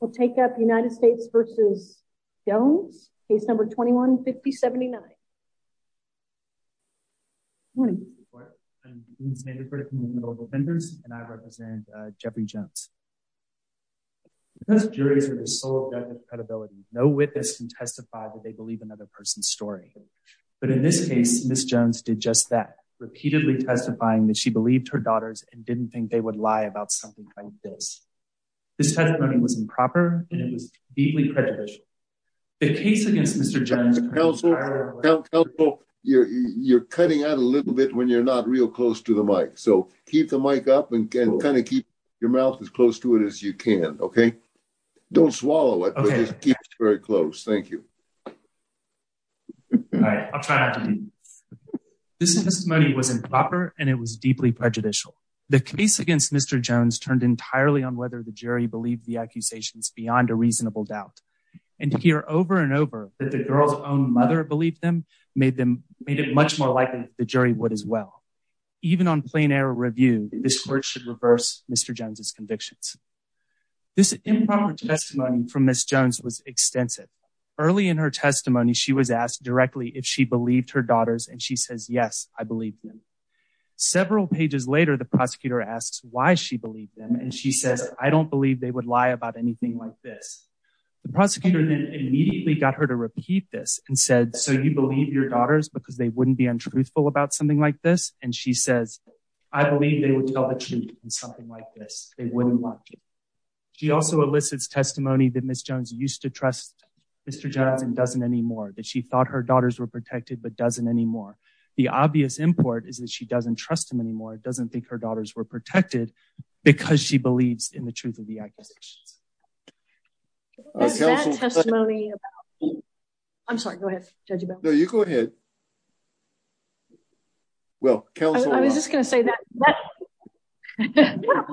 We'll take up United States versus Jones, case number 21-5079. Morning. Good morning. I'm Dean Sandiford from the Noble Vendors, and I represent Jeopardy! Jones. Because juries are the sole object of credibility, no witness can testify that they believe another person's story. But in this case, Ms. Jones did just that, repeatedly testifying that she believed her daughters and didn't think they would lie about something like this. This testimony was improper, and it was deeply prejudicial. The case against Mr. Jones- Counsel, counsel, you're cutting out a little bit when you're not real close to the mic, so keep the mic up and kind of keep your mouth as close to it as you can, okay? Don't swallow it, but just keep it very close. Thank you. All right, I'll try not to do this. This testimony was improper, and it was deeply prejudicial. The case against Mr. Jones was turned entirely on whether the jury believed the accusations beyond a reasonable doubt. And to hear over and over that the girl's own mother believed them made it much more likely that the jury would as well. Even on plain air review, this court should reverse Mr. Jones' convictions. This improper testimony from Ms. Jones was extensive. Early in her testimony, she was asked directly if she believed her daughters, and she says, yes, I believe them. Several pages later, the prosecutor asks why she believed them, and she says, I don't believe they would lie about anything like this. The prosecutor then immediately got her to repeat this and said, so you believe your daughters because they wouldn't be untruthful about something like this? And she says, I believe they would tell the truth in something like this, they wouldn't lie. She also elicits testimony that Ms. Jones used to trust Mr. Jones and doesn't anymore, that she thought her daughters were protected, but doesn't anymore. The obvious import is that she doesn't trust him anymore, doesn't think her daughters were protected because she believes in the truth of the accusations. Council- What is that testimony about? I'm sorry, go ahead, Judge Bell. No, you go ahead. Well, counsel- I was just gonna say that.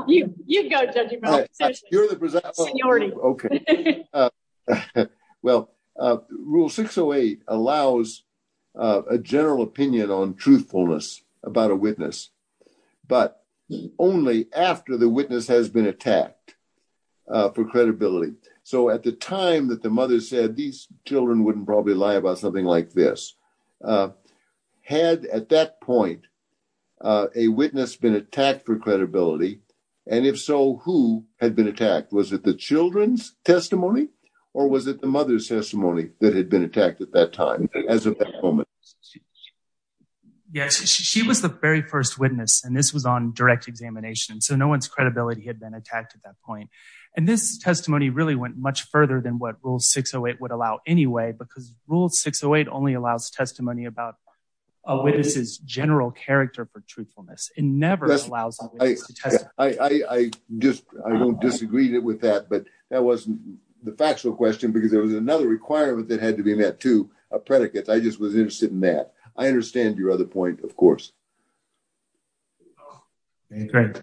You go, Judge Bell. You're the- Seniority. Okay. Well, rule 608 allows a general opinion on truthfulness about a witness, but only after the witness has been attacked for credibility. So at the time that the mother said, these children wouldn't probably lie about something like this, had at that point a witness been attacked for credibility, and if so, who had been attacked? Was it the children's testimony or was it the mother's testimony that had been attacked at that time, as of that moment? She was the very first witness, and this was on direct examination. So no one's credibility had been attacked at that point. And this testimony really went much further than what rule 608 would allow anyway, because rule 608 only allows testimony about a witness's general character for truthfulness. It never allows a witness to testify. I just, I don't disagree with that, but that wasn't the factual question because there was another requirement that had to be met too, a predicate. I just was interested in that. I understand your other point, of course. Okay, great.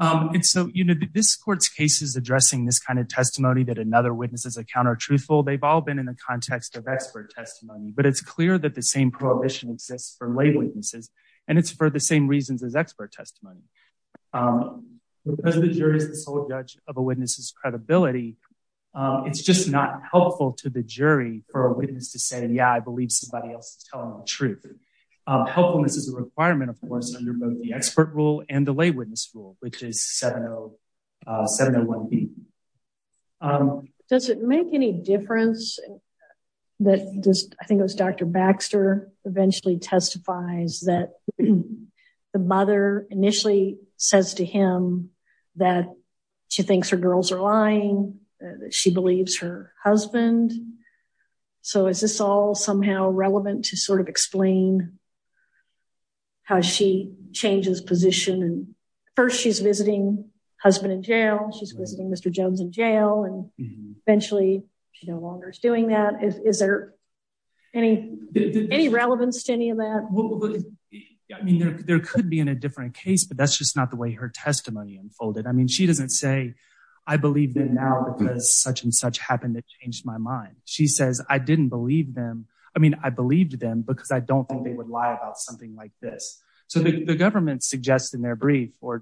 And so, this court's case is addressing this kind of testimony that another witness's account are truthful. They've all been in the context of expert testimony, but it's clear that the same prohibition exists for lay witnesses, and it's for the same reasons as expert testimony. of a witness's credibility, it's just not helpful to the jury for a witness to say, yeah, I believe somebody else is telling the truth. Helpfulness is a requirement, of course, under both the expert rule and the lay witness rule, which is 701B. Does it make any difference that, I think it was Dr. Baxter eventually testifies that the mother initially says to him that she thinks her girls are lying, that she believes her husband. So, is this all somehow relevant to sort of explain how she changes position? And first, she's visiting husband in jail, she's visiting Mr. Jones in jail, and eventually, she no longer is doing that. Is there any relevance to any of that? I mean, there could be in a different case, but that's just not the way her testimony unfolded. I mean, she doesn't say, I believe them now because such and such happened that changed my mind. She says, I didn't believe them. I mean, I believed them because I don't think they would lie about something like this. So, the government suggests in their brief or-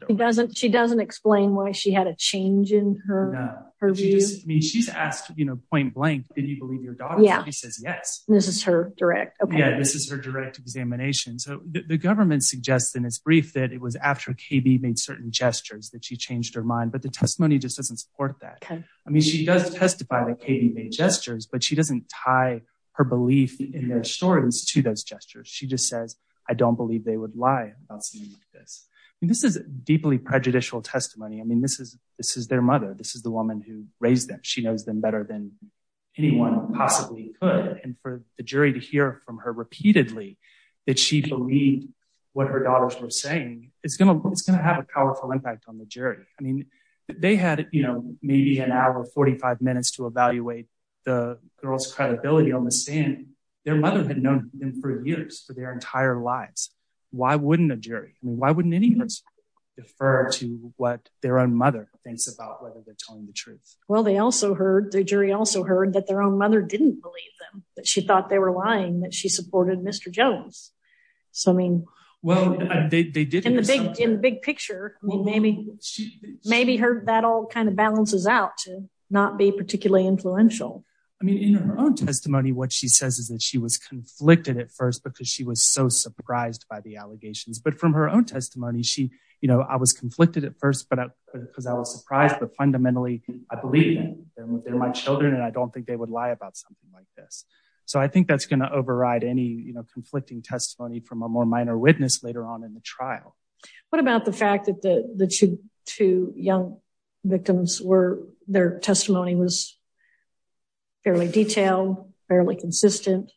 She doesn't explain why she had a change in her view? I mean, she's asked, point blank, did you believe your daughter? She says, yes. This is her direct, okay. Yeah, this is her direct examination. So, the government suggests in its brief that it was after KB made certain gestures that she changed her mind, but the testimony just doesn't support that. I mean, she does testify that KB made gestures, but she doesn't tie her belief in their stories to those gestures. She just says, I don't believe they would lie about something like this. I mean, this is deeply prejudicial testimony. I mean, this is their mother. This is the woman who raised them. She knows them better than anyone possibly could. And for the jury to hear from her repeatedly that she believed what her daughters were saying, it's gonna have a powerful impact on the jury. I mean, they had maybe an hour, 45 minutes to evaluate the girl's credibility on the stand. Their mother had known them for years, for their entire lives. Why wouldn't a jury, I mean, why wouldn't any person defer to what their own mother thinks about whether they're telling the truth? Well, they also heard, the jury also heard that their own mother didn't believe them, that she thought they were lying, that she supported Mr. Jones. So, I mean- Well, they did hear something. In the big picture, I mean, maybe that all kind of balances out to not be particularly influential. I mean, in her own testimony, what she says is that she was conflicted at first because she was so surprised by the allegations. But from her own testimony, she, you know, I was conflicted at first because I was surprised, but fundamentally, I believe them. They're my children, and I don't think they would lie about something like this. So, I think that's gonna override any conflicting testimony from a more minor witness later on in the trial. What about the fact that the two young victims were, their testimony was fairly detailed, fairly consistent,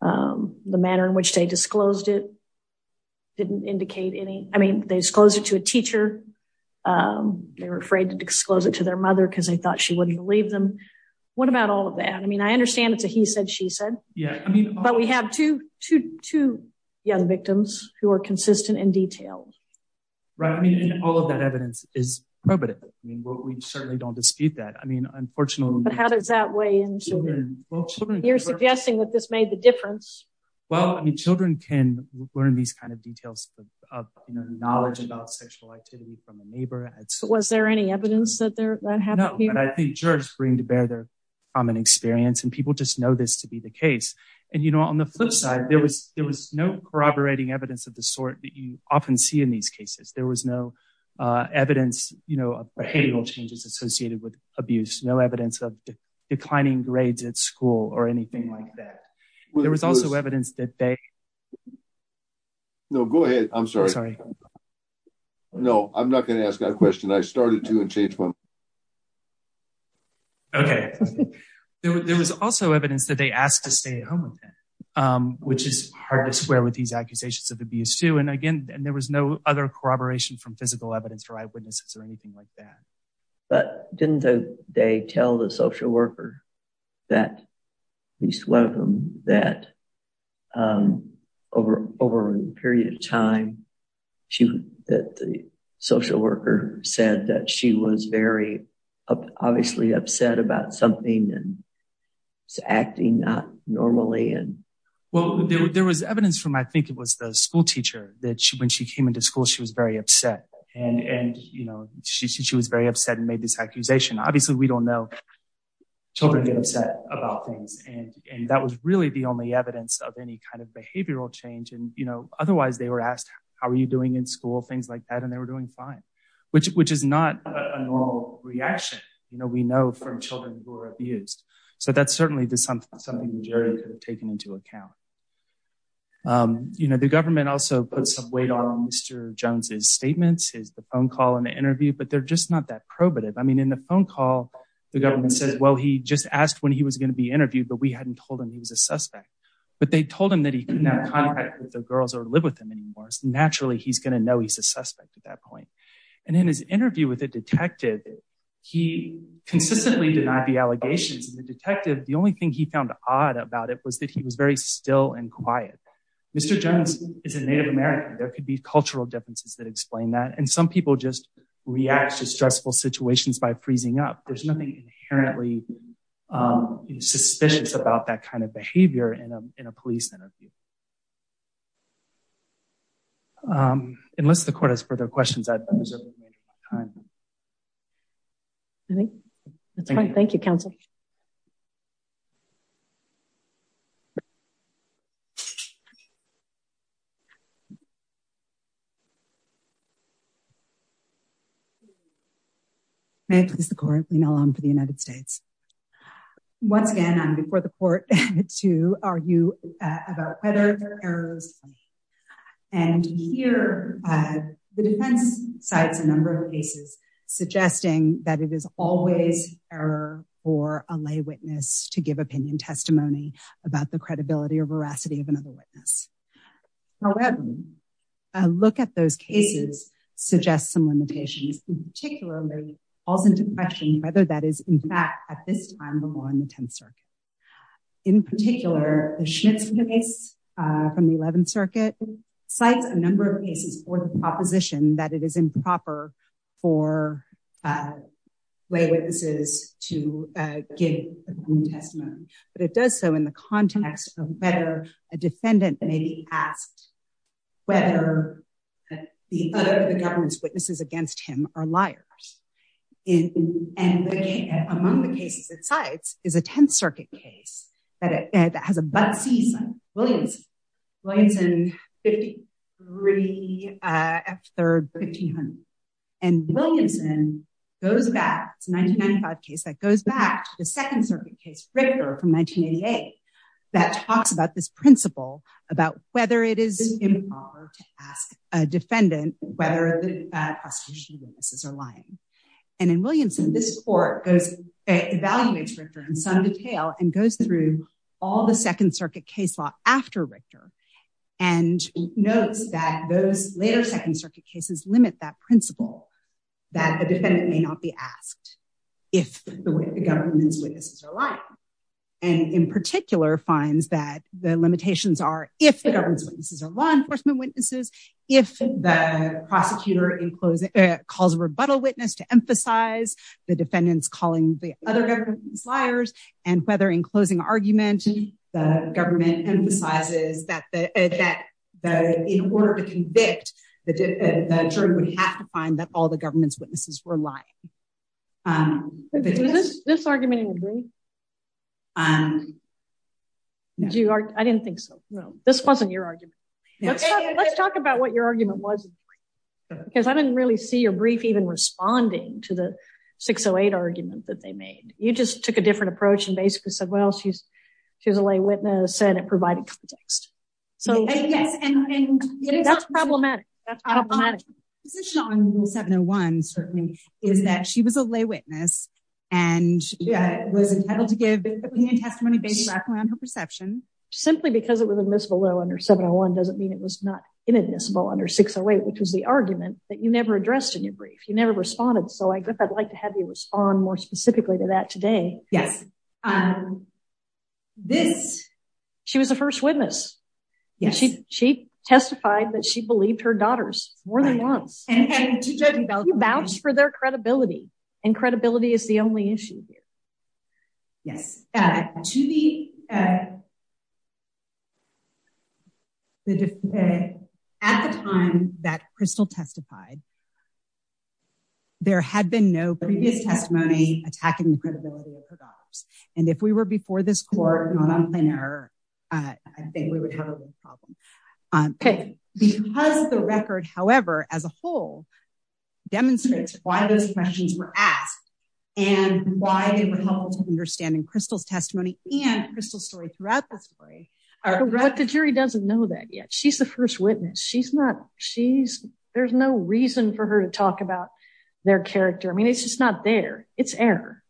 the manner in which they disclosed it didn't indicate any, I mean, they disclosed it to a teacher. They were afraid to disclose it to their mother because they thought she wouldn't believe them. What about all of that? I mean, I understand it's a he said, she said. Yeah, I mean- Two young victims who are consistent in detail. Right, I mean, and all of that evidence is probative. I mean, we certainly don't dispute that. I mean, unfortunately- But how does that weigh in children? You're suggesting that this made the difference. Well, I mean, children can learn these kinds of details of knowledge about sexual activity from a neighbor. Was there any evidence that happened here? No, but I think jurors bring to bear their common experience, and people just know this to be the case. And, you know, on the flip side, there was no corroborating evidence of the sort that you often see in these cases. There was no evidence of behavioral changes associated with abuse, no evidence of declining grades at school or anything like that. There was also evidence that they- No, go ahead. I'm sorry. No, I'm not gonna ask that question. I started to and changed my mind. Okay, there was also evidence that they asked to stay at home with him, which is hard to square with these accusations of abuse too. And again, there was no other corroboration from physical evidence or eyewitnesses or anything like that. But didn't they tell the social worker that, at least one of them, that over a period of time, she, that the social worker said that she was very obviously upset about something and acting not normally and- Well, there was evidence from, I think it was the school teacher that when she came into school, she was very upset. And, you know, she was very upset and made this accusation. Obviously, we don't know. Children get upset about things. And that was really the only evidence of any kind of behavioral change. And, you know, otherwise they were asked, how are you doing in school? Things like that. And they were doing fine, which is not a normal reaction. You know, we know from children who are abused. So that's certainly something that Jerry could have taken into account. You know, the government also put some weight on Mr. Jones's statements, his phone call and the interview, but they're just not that probative. I mean, in the phone call, the government says, well, he just asked when he was gonna be interviewed, but we hadn't told him he was a suspect. But they told him that he couldn't have contact with the girls or live with them anymore. Naturally, he's gonna know he's a suspect at that point. And in his interview with a detective, he consistently denied the allegations. And the detective, the only thing he found odd about it was that he was very still and quiet. Mr. Jones is a Native American. There could be cultural differences that explain that. And some people just react to stressful situations by freezing up. There's nothing inherently suspicious about that kind of behavior in a police interview. Unless the court has further questions, I've reserved my time. I think that's fine. Thank you, counsel. May I please the court, Lena Long for the United States. Once again, I'm before the court to argue about whether there are errors. And here, the defense cites a number of cases suggesting that it is always error for a lay witness to give opinion testimony about the credibility or veracity of another witness. However, a look at those cases suggests some limitations. In particular, it falls into question whether that is in fact, at this time, the law in the 10th Circuit. In particular, the Schmitz case from the 11th Circuit cites a number of cases for the proposition that it is improper for lay witnesses to give opinion testimony. But it does so in the context of whether a defendant may be asked whether the other of the government's witnesses against him are liars. And among the cases it cites is a 10th Circuit case that has a Bud C. Williams. Williamson 53, F3rd, 1500. And Williamson goes back, it's a 1995 case that goes back to the 2nd Circuit case, Richter from 1988, that talks about this principle about whether it is improper to ask a defendant whether the prosecution witnesses are lying. And in Williamson, this court goes, evaluates Richter in some detail and goes through all the 2nd Circuit case law after Richter, and notes that those later 2nd Circuit cases limit that principle that the defendant may not be asked if the government's witnesses are lying. And in particular, finds that the limitations are if the government's witnesses are law enforcement witnesses, if the prosecutor calls a rebuttal witness to emphasize the defendant's calling the other government's liars, and whether in closing argument, the government emphasizes that in order to convict, the jury would have to find that all the government's witnesses were lying. This argument in the brief? I didn't think so. No, this wasn't your argument. Let's talk about what your argument was, because I didn't really see your brief even responding to the 608 argument that they made. You just took a different approach and basically said, well, she's a lay witness, and it provided context. So that's problematic, that's problematic. The position on Rule 701 certainly is that she was a lay witness and was entitled to give opinion testimony based back around her perception. Simply because it was admissible under 701 doesn't mean it was not inadmissible under 608, which was the argument that you never addressed in your brief, you never responded. So I guess I'd like to have you respond more specifically to that today. Yes. This- She was a first witness. Yes. She testified that she believed her daughters more than once. And to judge- She vouched for their credibility, and credibility is the only issue here. Yes. At the time that Crystal testified, there had been no previous testimony attacking the credibility of her daughters. And if we were before this court, not on plain error, I think we would have a real problem. Okay. Because the record, however, as a whole demonstrates why those questions were asked and why they were helpful to understand in Crystal's testimony and Crystal's story throughout the story- But the jury doesn't know that yet. She's the first witness. There's no reason for her to talk about their character. I mean, it's just not there. It's error.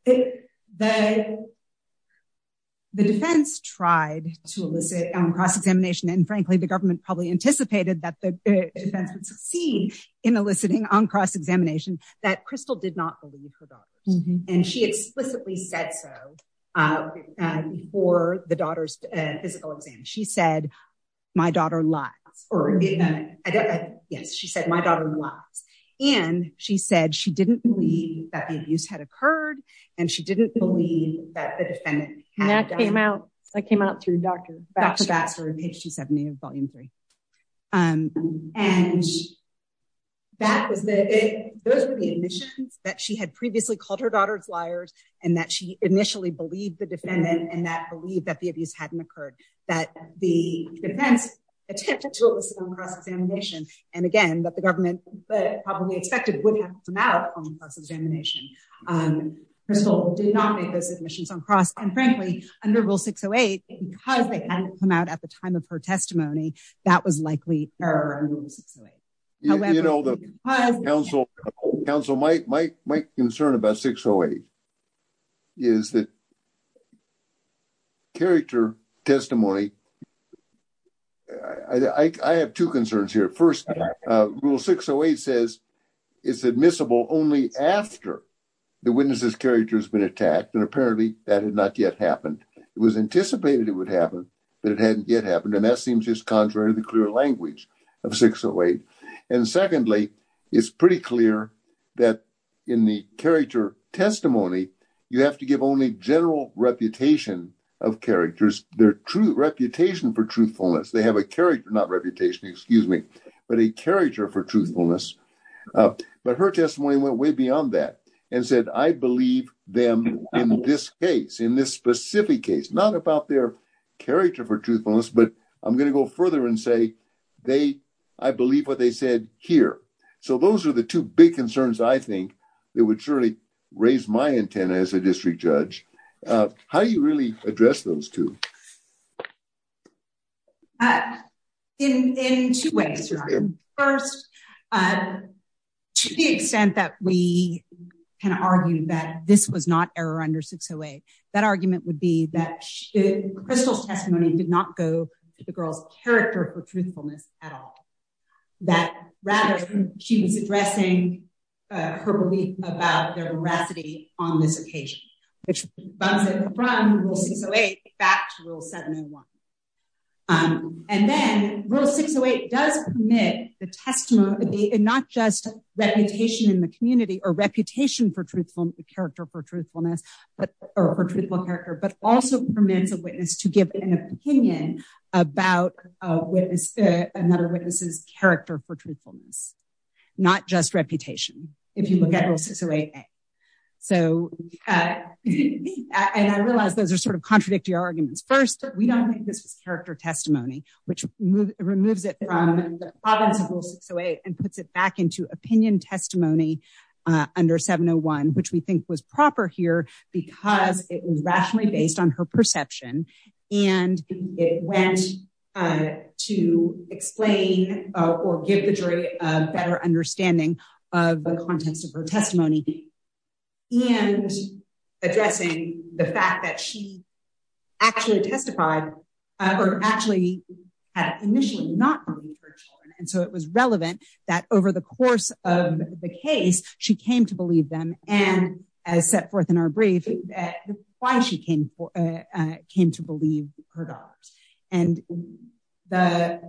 The defense tried to elicit on cross-examination. And frankly, the government probably anticipated that the defense would succeed in eliciting on cross-examination that Crystal did not believe her daughters. And she explicitly said so before the daughter's physical exam. She said, my daughter lies. Or, yes, she said, my daughter lies. And she said she didn't believe that the abuse had occurred. And she didn't believe that the defendant had- And that came out. That came out through Dr. Baxter in page 270 of volume three. And those were the admissions that she had previously called her daughters liars and that she initially believed the defendant and that believed that the abuse hadn't occurred. That the defense attempted to elicit on cross-examination. And again, that the government probably expected that it would have come out on cross-examination. Crystal did not make those admissions on cross. And frankly, under rule 608, because they hadn't come out at the time of her testimony, that was likely error under rule 608. However- You know, the counsel might concern about 608 is that character testimony. I have two concerns here. First, rule 608 says it's admissible only after the witness's character has been attacked. And apparently that had not yet happened. It was anticipated it would happen, but it hadn't yet happened. And that seems just contrary to the clear language of 608. And secondly, it's pretty clear that in the character testimony, you have to give only general reputation of characters. Their true reputation for truthfulness. They have a character, not reputation, excuse me, but a character for truthfulness. But her testimony went way beyond that and said, I believe them in this case, in this specific case, not about their character for truthfulness, but I'm gonna go further and say, I believe what they said here. So those are the two big concerns I think that would surely raise my antenna as a district judge. How do you really address those two? In two ways, your honor. First, to the extent that we can argue that this was not error under 608, that argument would be that Crystal's testimony did not go to the girl's character for truthfulness at all. That rather she was addressing her belief about their veracity on this occasion. Which bumps it from rule 608 back to 608, back to rule 701. And then rule 608 does permit the testimony and not just reputation in the community or reputation for truthfulness, character for truthfulness, or for truthful character, but also permits a witness to give an opinion about another witness's character for truthfulness. Not just reputation, if you look at rule 608A. So, and I realize those are sort of contradictory arguments. First, we don't think this was character testimony, which removes it from the province of rule 608 and puts it back into opinion testimony under 701, which we think was proper here because it was rationally based on her perception. And it went to explain or give the jury a better understanding of the contents of her testimony and addressing the fact that she actually testified, or actually had initially not believed her children. And so it was relevant that over the course of the case, she came to believe them. And as set forth in our brief, why she came to believe her daughters. And the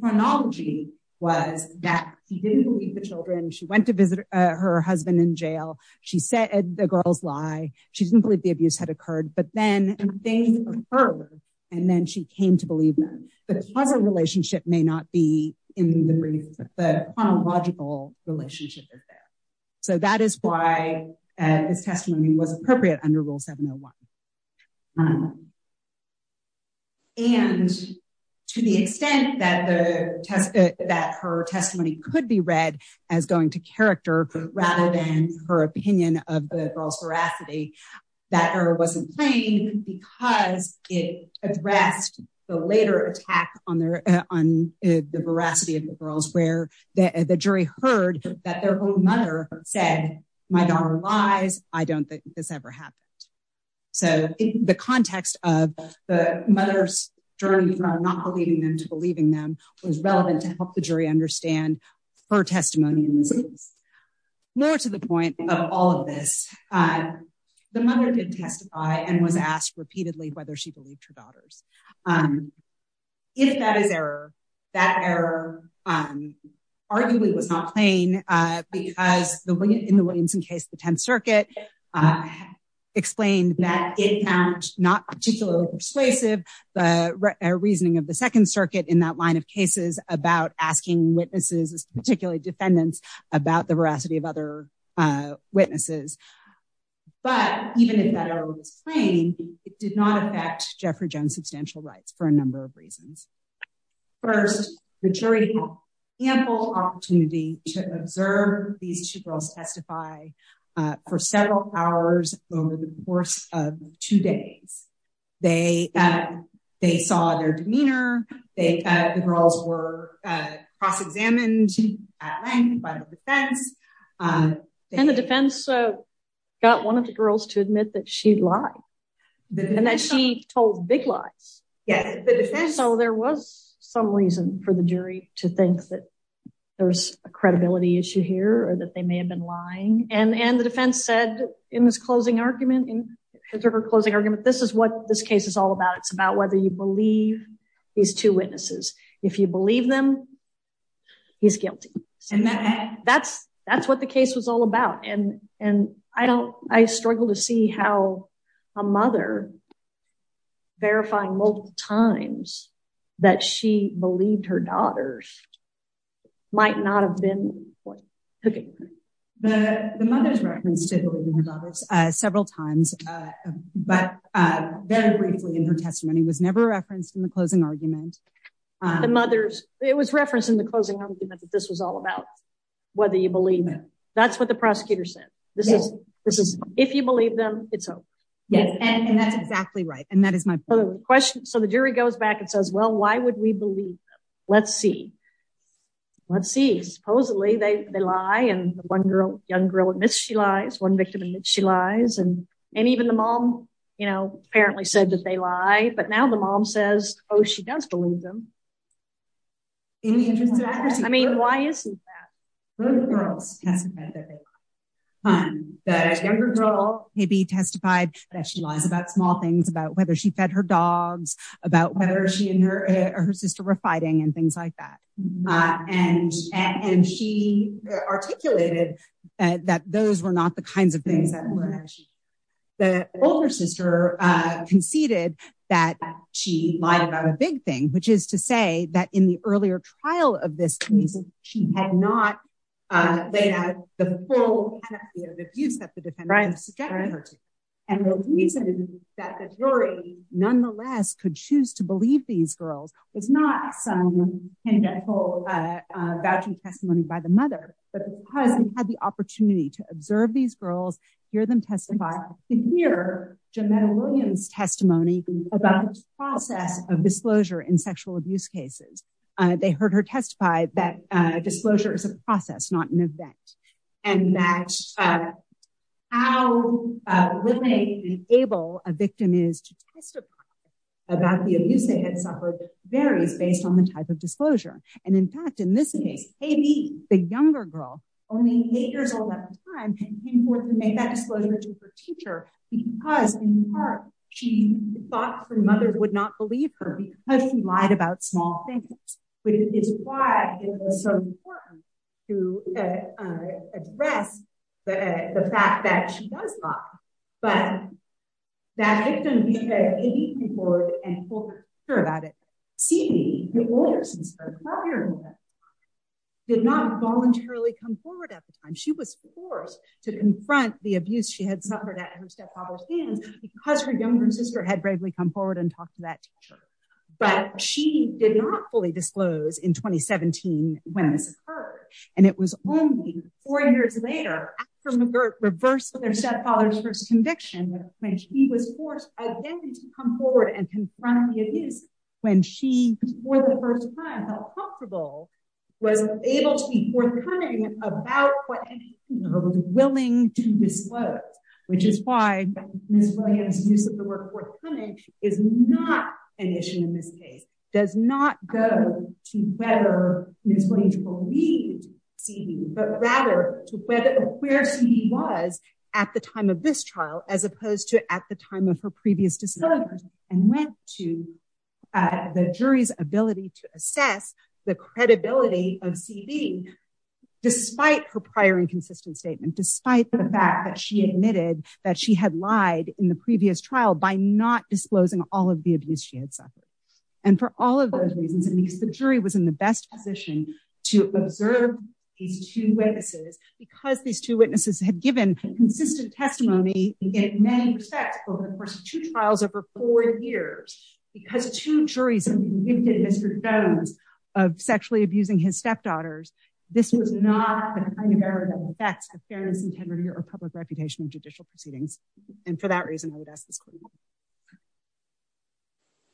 chronology was that she didn't believe the children. She went to visit her husband in jail. She said the girls lie. She didn't believe the abuse had occurred, but then they heard, and then she came to believe them. The causal relationship may not be in the brief, the chronological relationship is there. So that is why this testimony was appropriate under rule 701. And to the extent that her testimony could be read as going to character, rather than her opinion of the girls veracity, that error wasn't claimed because it addressed the later attack on the veracity of the girls where the jury heard that their own mother said, my daughter lies. I don't think this ever happened. So the context of the mother's journey from not believing them to believing them was relevant to help the jury understand her testimony in this case. More to the point of all of this, the mother did testify and was asked repeatedly whether she believed her daughters. If that is error, that error arguably was not plain because in the Williamson case, the 10th circuit explained that it found of the second circuit in that line of cases about asking witnesses, particularly defendants about the veracity of other witnesses. But even if that error was plain, it did not affect Jeffrey Jones' substantial rights for a number of reasons. First, the jury had ample opportunity to observe these two girls testify for several hours over the course of two days. They saw their demeanor, the girls were cross-examined by the defense. And the defense got one of the girls to admit that she lied and that she told big lies. Yeah. So there was some reason for the jury to think that there's a credibility issue here or that they may have been lying. And the defense said in this closing argument, in her closing argument, this is what this case is all about. It's about whether you believe these two witnesses. If you believe them, he's guilty. That's what the case was all about. And I struggle to see how a mother verifying multiple times that she believed her daughters might not have been what took it. The mother's reference to believing her daughters several times, but very briefly in her testimony was never referenced in the closing argument. The mother's, it was referenced in the closing argument that this was all about whether you believe them. That's what the prosecutor said. This is, if you believe them, it's over. Yes, and that's exactly right. And that is my point. So the jury goes back and says, well, why would we believe them? Let's see. Let's see. Supposedly they lie and the one girl, young girl admits she lies, one victim admits she lies. And even the mom, you know, apparently said that they lie, but now the mom says, oh, she does believe them. In the interest of accuracy. I mean, why isn't that? Both girls testified that they lie. That a younger girl maybe testified that she lies about small things, about whether she fed her dogs, about whether she and her sister were fighting and things like that. And she articulated that those were not the kinds of things that were mentioned. The older sister conceded that she lied about a big thing, which is to say that in the earlier trial of this case, she had not laid out the full panoply of abuse that the defendants had subjected her to. And the reason that the jury nonetheless could choose to believe these girls was not some candidate for a vouching testimony by the mother, but because they had the opportunity to observe these girls, hear them testify, to hear Jameda Williams' testimony about the process of disclosure in sexual abuse cases. They heard her testify that disclosure is a process, not an event. And that how willing and able a victim is to testify about the abuse they had suffered varies based on the type of disclosure. And in fact, in this case, maybe the younger girl, only eight years old at the time, had come forth and made that disclosure to her teacher because in part, she thought her mother would not believe her because she lied about small things, which is why it was so important to address the fact that she does lie. But that victim, who had eight years old and told her about it, seemingly the older sister, the 12-year-old at the time, did not voluntarily come forward at the time. She was forced to confront the abuse she had suffered at her stepfather's hands because her younger sister had bravely come forward and talked to that teacher. But she did not fully disclose in 2017 when this occurred. And it was only four years later after McGirt reversed their stepfather's first conviction when she was forced again to come forward and confront the abuse when she, for the first time, felt comfortable, was able to be forthcoming about what anything she was willing to disclose, which is why Ms. Williams' use of the word forthcoming is not an issue in this case, does not go to whether Ms. Williams believed CV, but rather to where CV was at the time of this trial, as opposed to at the time of her previous discovery and went to the jury's ability to assess the credibility of CV, despite her prior inconsistent statement, despite the fact that she admitted that she had lied in the previous trial by not disclosing all of the abuse she had suffered. And for all of those reasons, and because the jury was in the best position to observe these two witnesses, because these two witnesses had given consistent testimony in many respects over the course of two trials over four years, because two juries had been gifted history of sexually abusing his stepdaughters, this was not the kind of error that affects the fairness and integrity or public reputation of judicial proceedings. And for that reason, I would ask this question.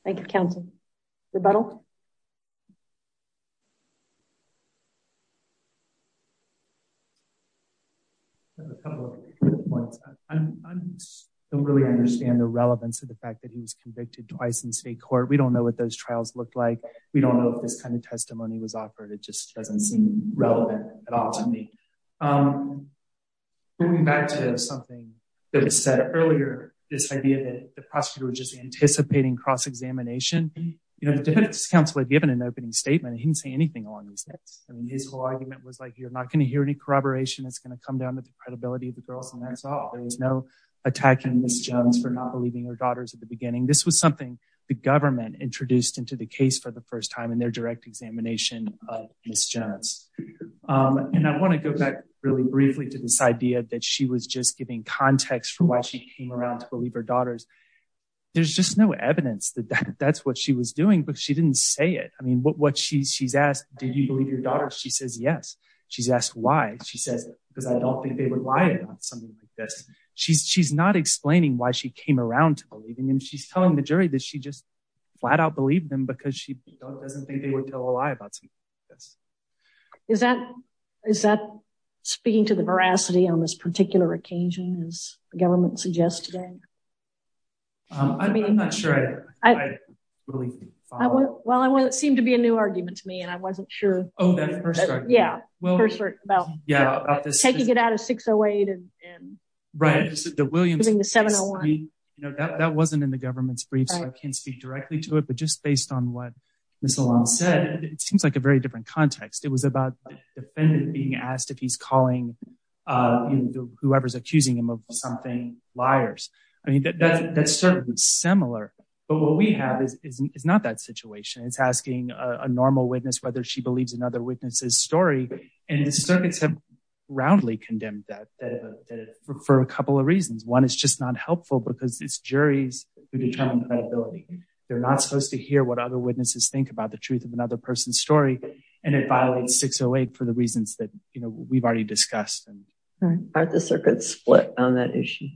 Thank you. Thank you, counsel. Rebuttal. I have a couple of points. I don't really understand the relevance of the fact that he was convicted twice in state court. We don't know what those trials looked like. We don't know if this kind of testimony was offered. It just doesn't seem relevant at all to me. Moving back to something that was said earlier, this idea that the prosecutor was just anticipating cross-examination. The defense counsel had given an opening statement and he didn't say anything along those lines. I mean, his whole argument was like, you're not gonna hear any corroboration. It's gonna come down to the credibility of the girls and that's all. There was no attacking Ms. Jones for not believing her daughters at the beginning. This was something the government introduced into the case for the first time in their direct examination of Ms. Jones. And I wanna go back really briefly to this idea that she was just giving context for why she came around to believe her daughters. There's just no evidence that that's what she was doing, but she didn't say it. I mean, what she's asked, did you believe your daughters? She says, yes. She's asked why? She says, because I don't think they would lie about something like this. She's not explaining why she came around to believing them. She's telling the jury that she just flat out believed them because she doesn't think they would tell a lie about something like this. Is that speaking to the veracity on this particular occasion as the government suggested? I mean- I'm not sure I really follow. Well, it seemed to be a new argument to me and I wasn't sure. Oh, that first argument? Yeah, first argument about- Yeah, about this- Taking it out of 608 and- Right, the Williams- Using the 701. I mean, that wasn't in the government's brief, so I can't speak directly to it, but just based on what Ms. Alon said, it seems like a very different context. It was about the defendant being asked if he's calling whoever's accusing him of something liars. I mean, that's certainly similar, but what we have is not that situation. It's asking a normal witness whether she believes another witness's story, and the circuits have roundly condemned that for a couple of reasons. One, it's just not helpful because it's juries who determine credibility. They're not supposed to hear what other witnesses think about the truth of another person's story, and it violates 608 for the reasons that we've already discussed. Aren't the circuits split on that issue?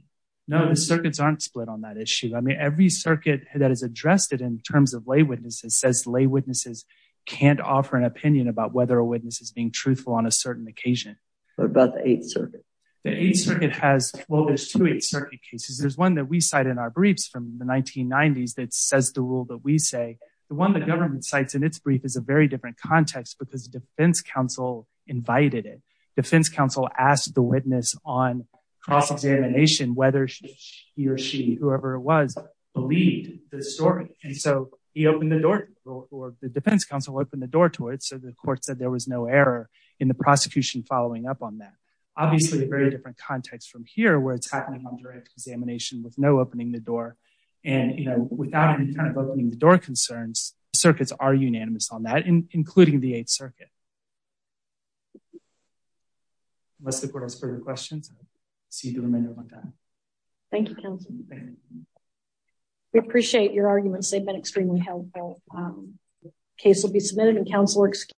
No, the circuits aren't split on that issue. I mean, every circuit that has addressed it in terms of lay witnesses says lay witnesses can't offer an opinion about whether a witness is being truthful on a certain occasion. What about the Eighth Circuit? The Eighth Circuit has, well, there's two Eighth Circuit cases. There's one that we cite in our briefs from the 1990s that says the rule that we say. The one the government cites in its brief is a very different context because the defense counsel invited it. Defense counsel asked the witness on cross-examination whether he or she, whoever it was, believed the story, and so he opened the door, or the defense counsel opened the door to it, so the court said there was no error in the prosecution following up on that. Obviously, a very different context from here where it's happening on direct examination with no opening the door, and without any kind of opening the door concerns, the circuits are unanimous on that, including the Eighth Circuit. Unless the court has further questions, I'll cede the remainder of my time. Thank you, counsel. We appreciate your arguments. They've been extremely helpful. Case will be submitted, and counsel are excused.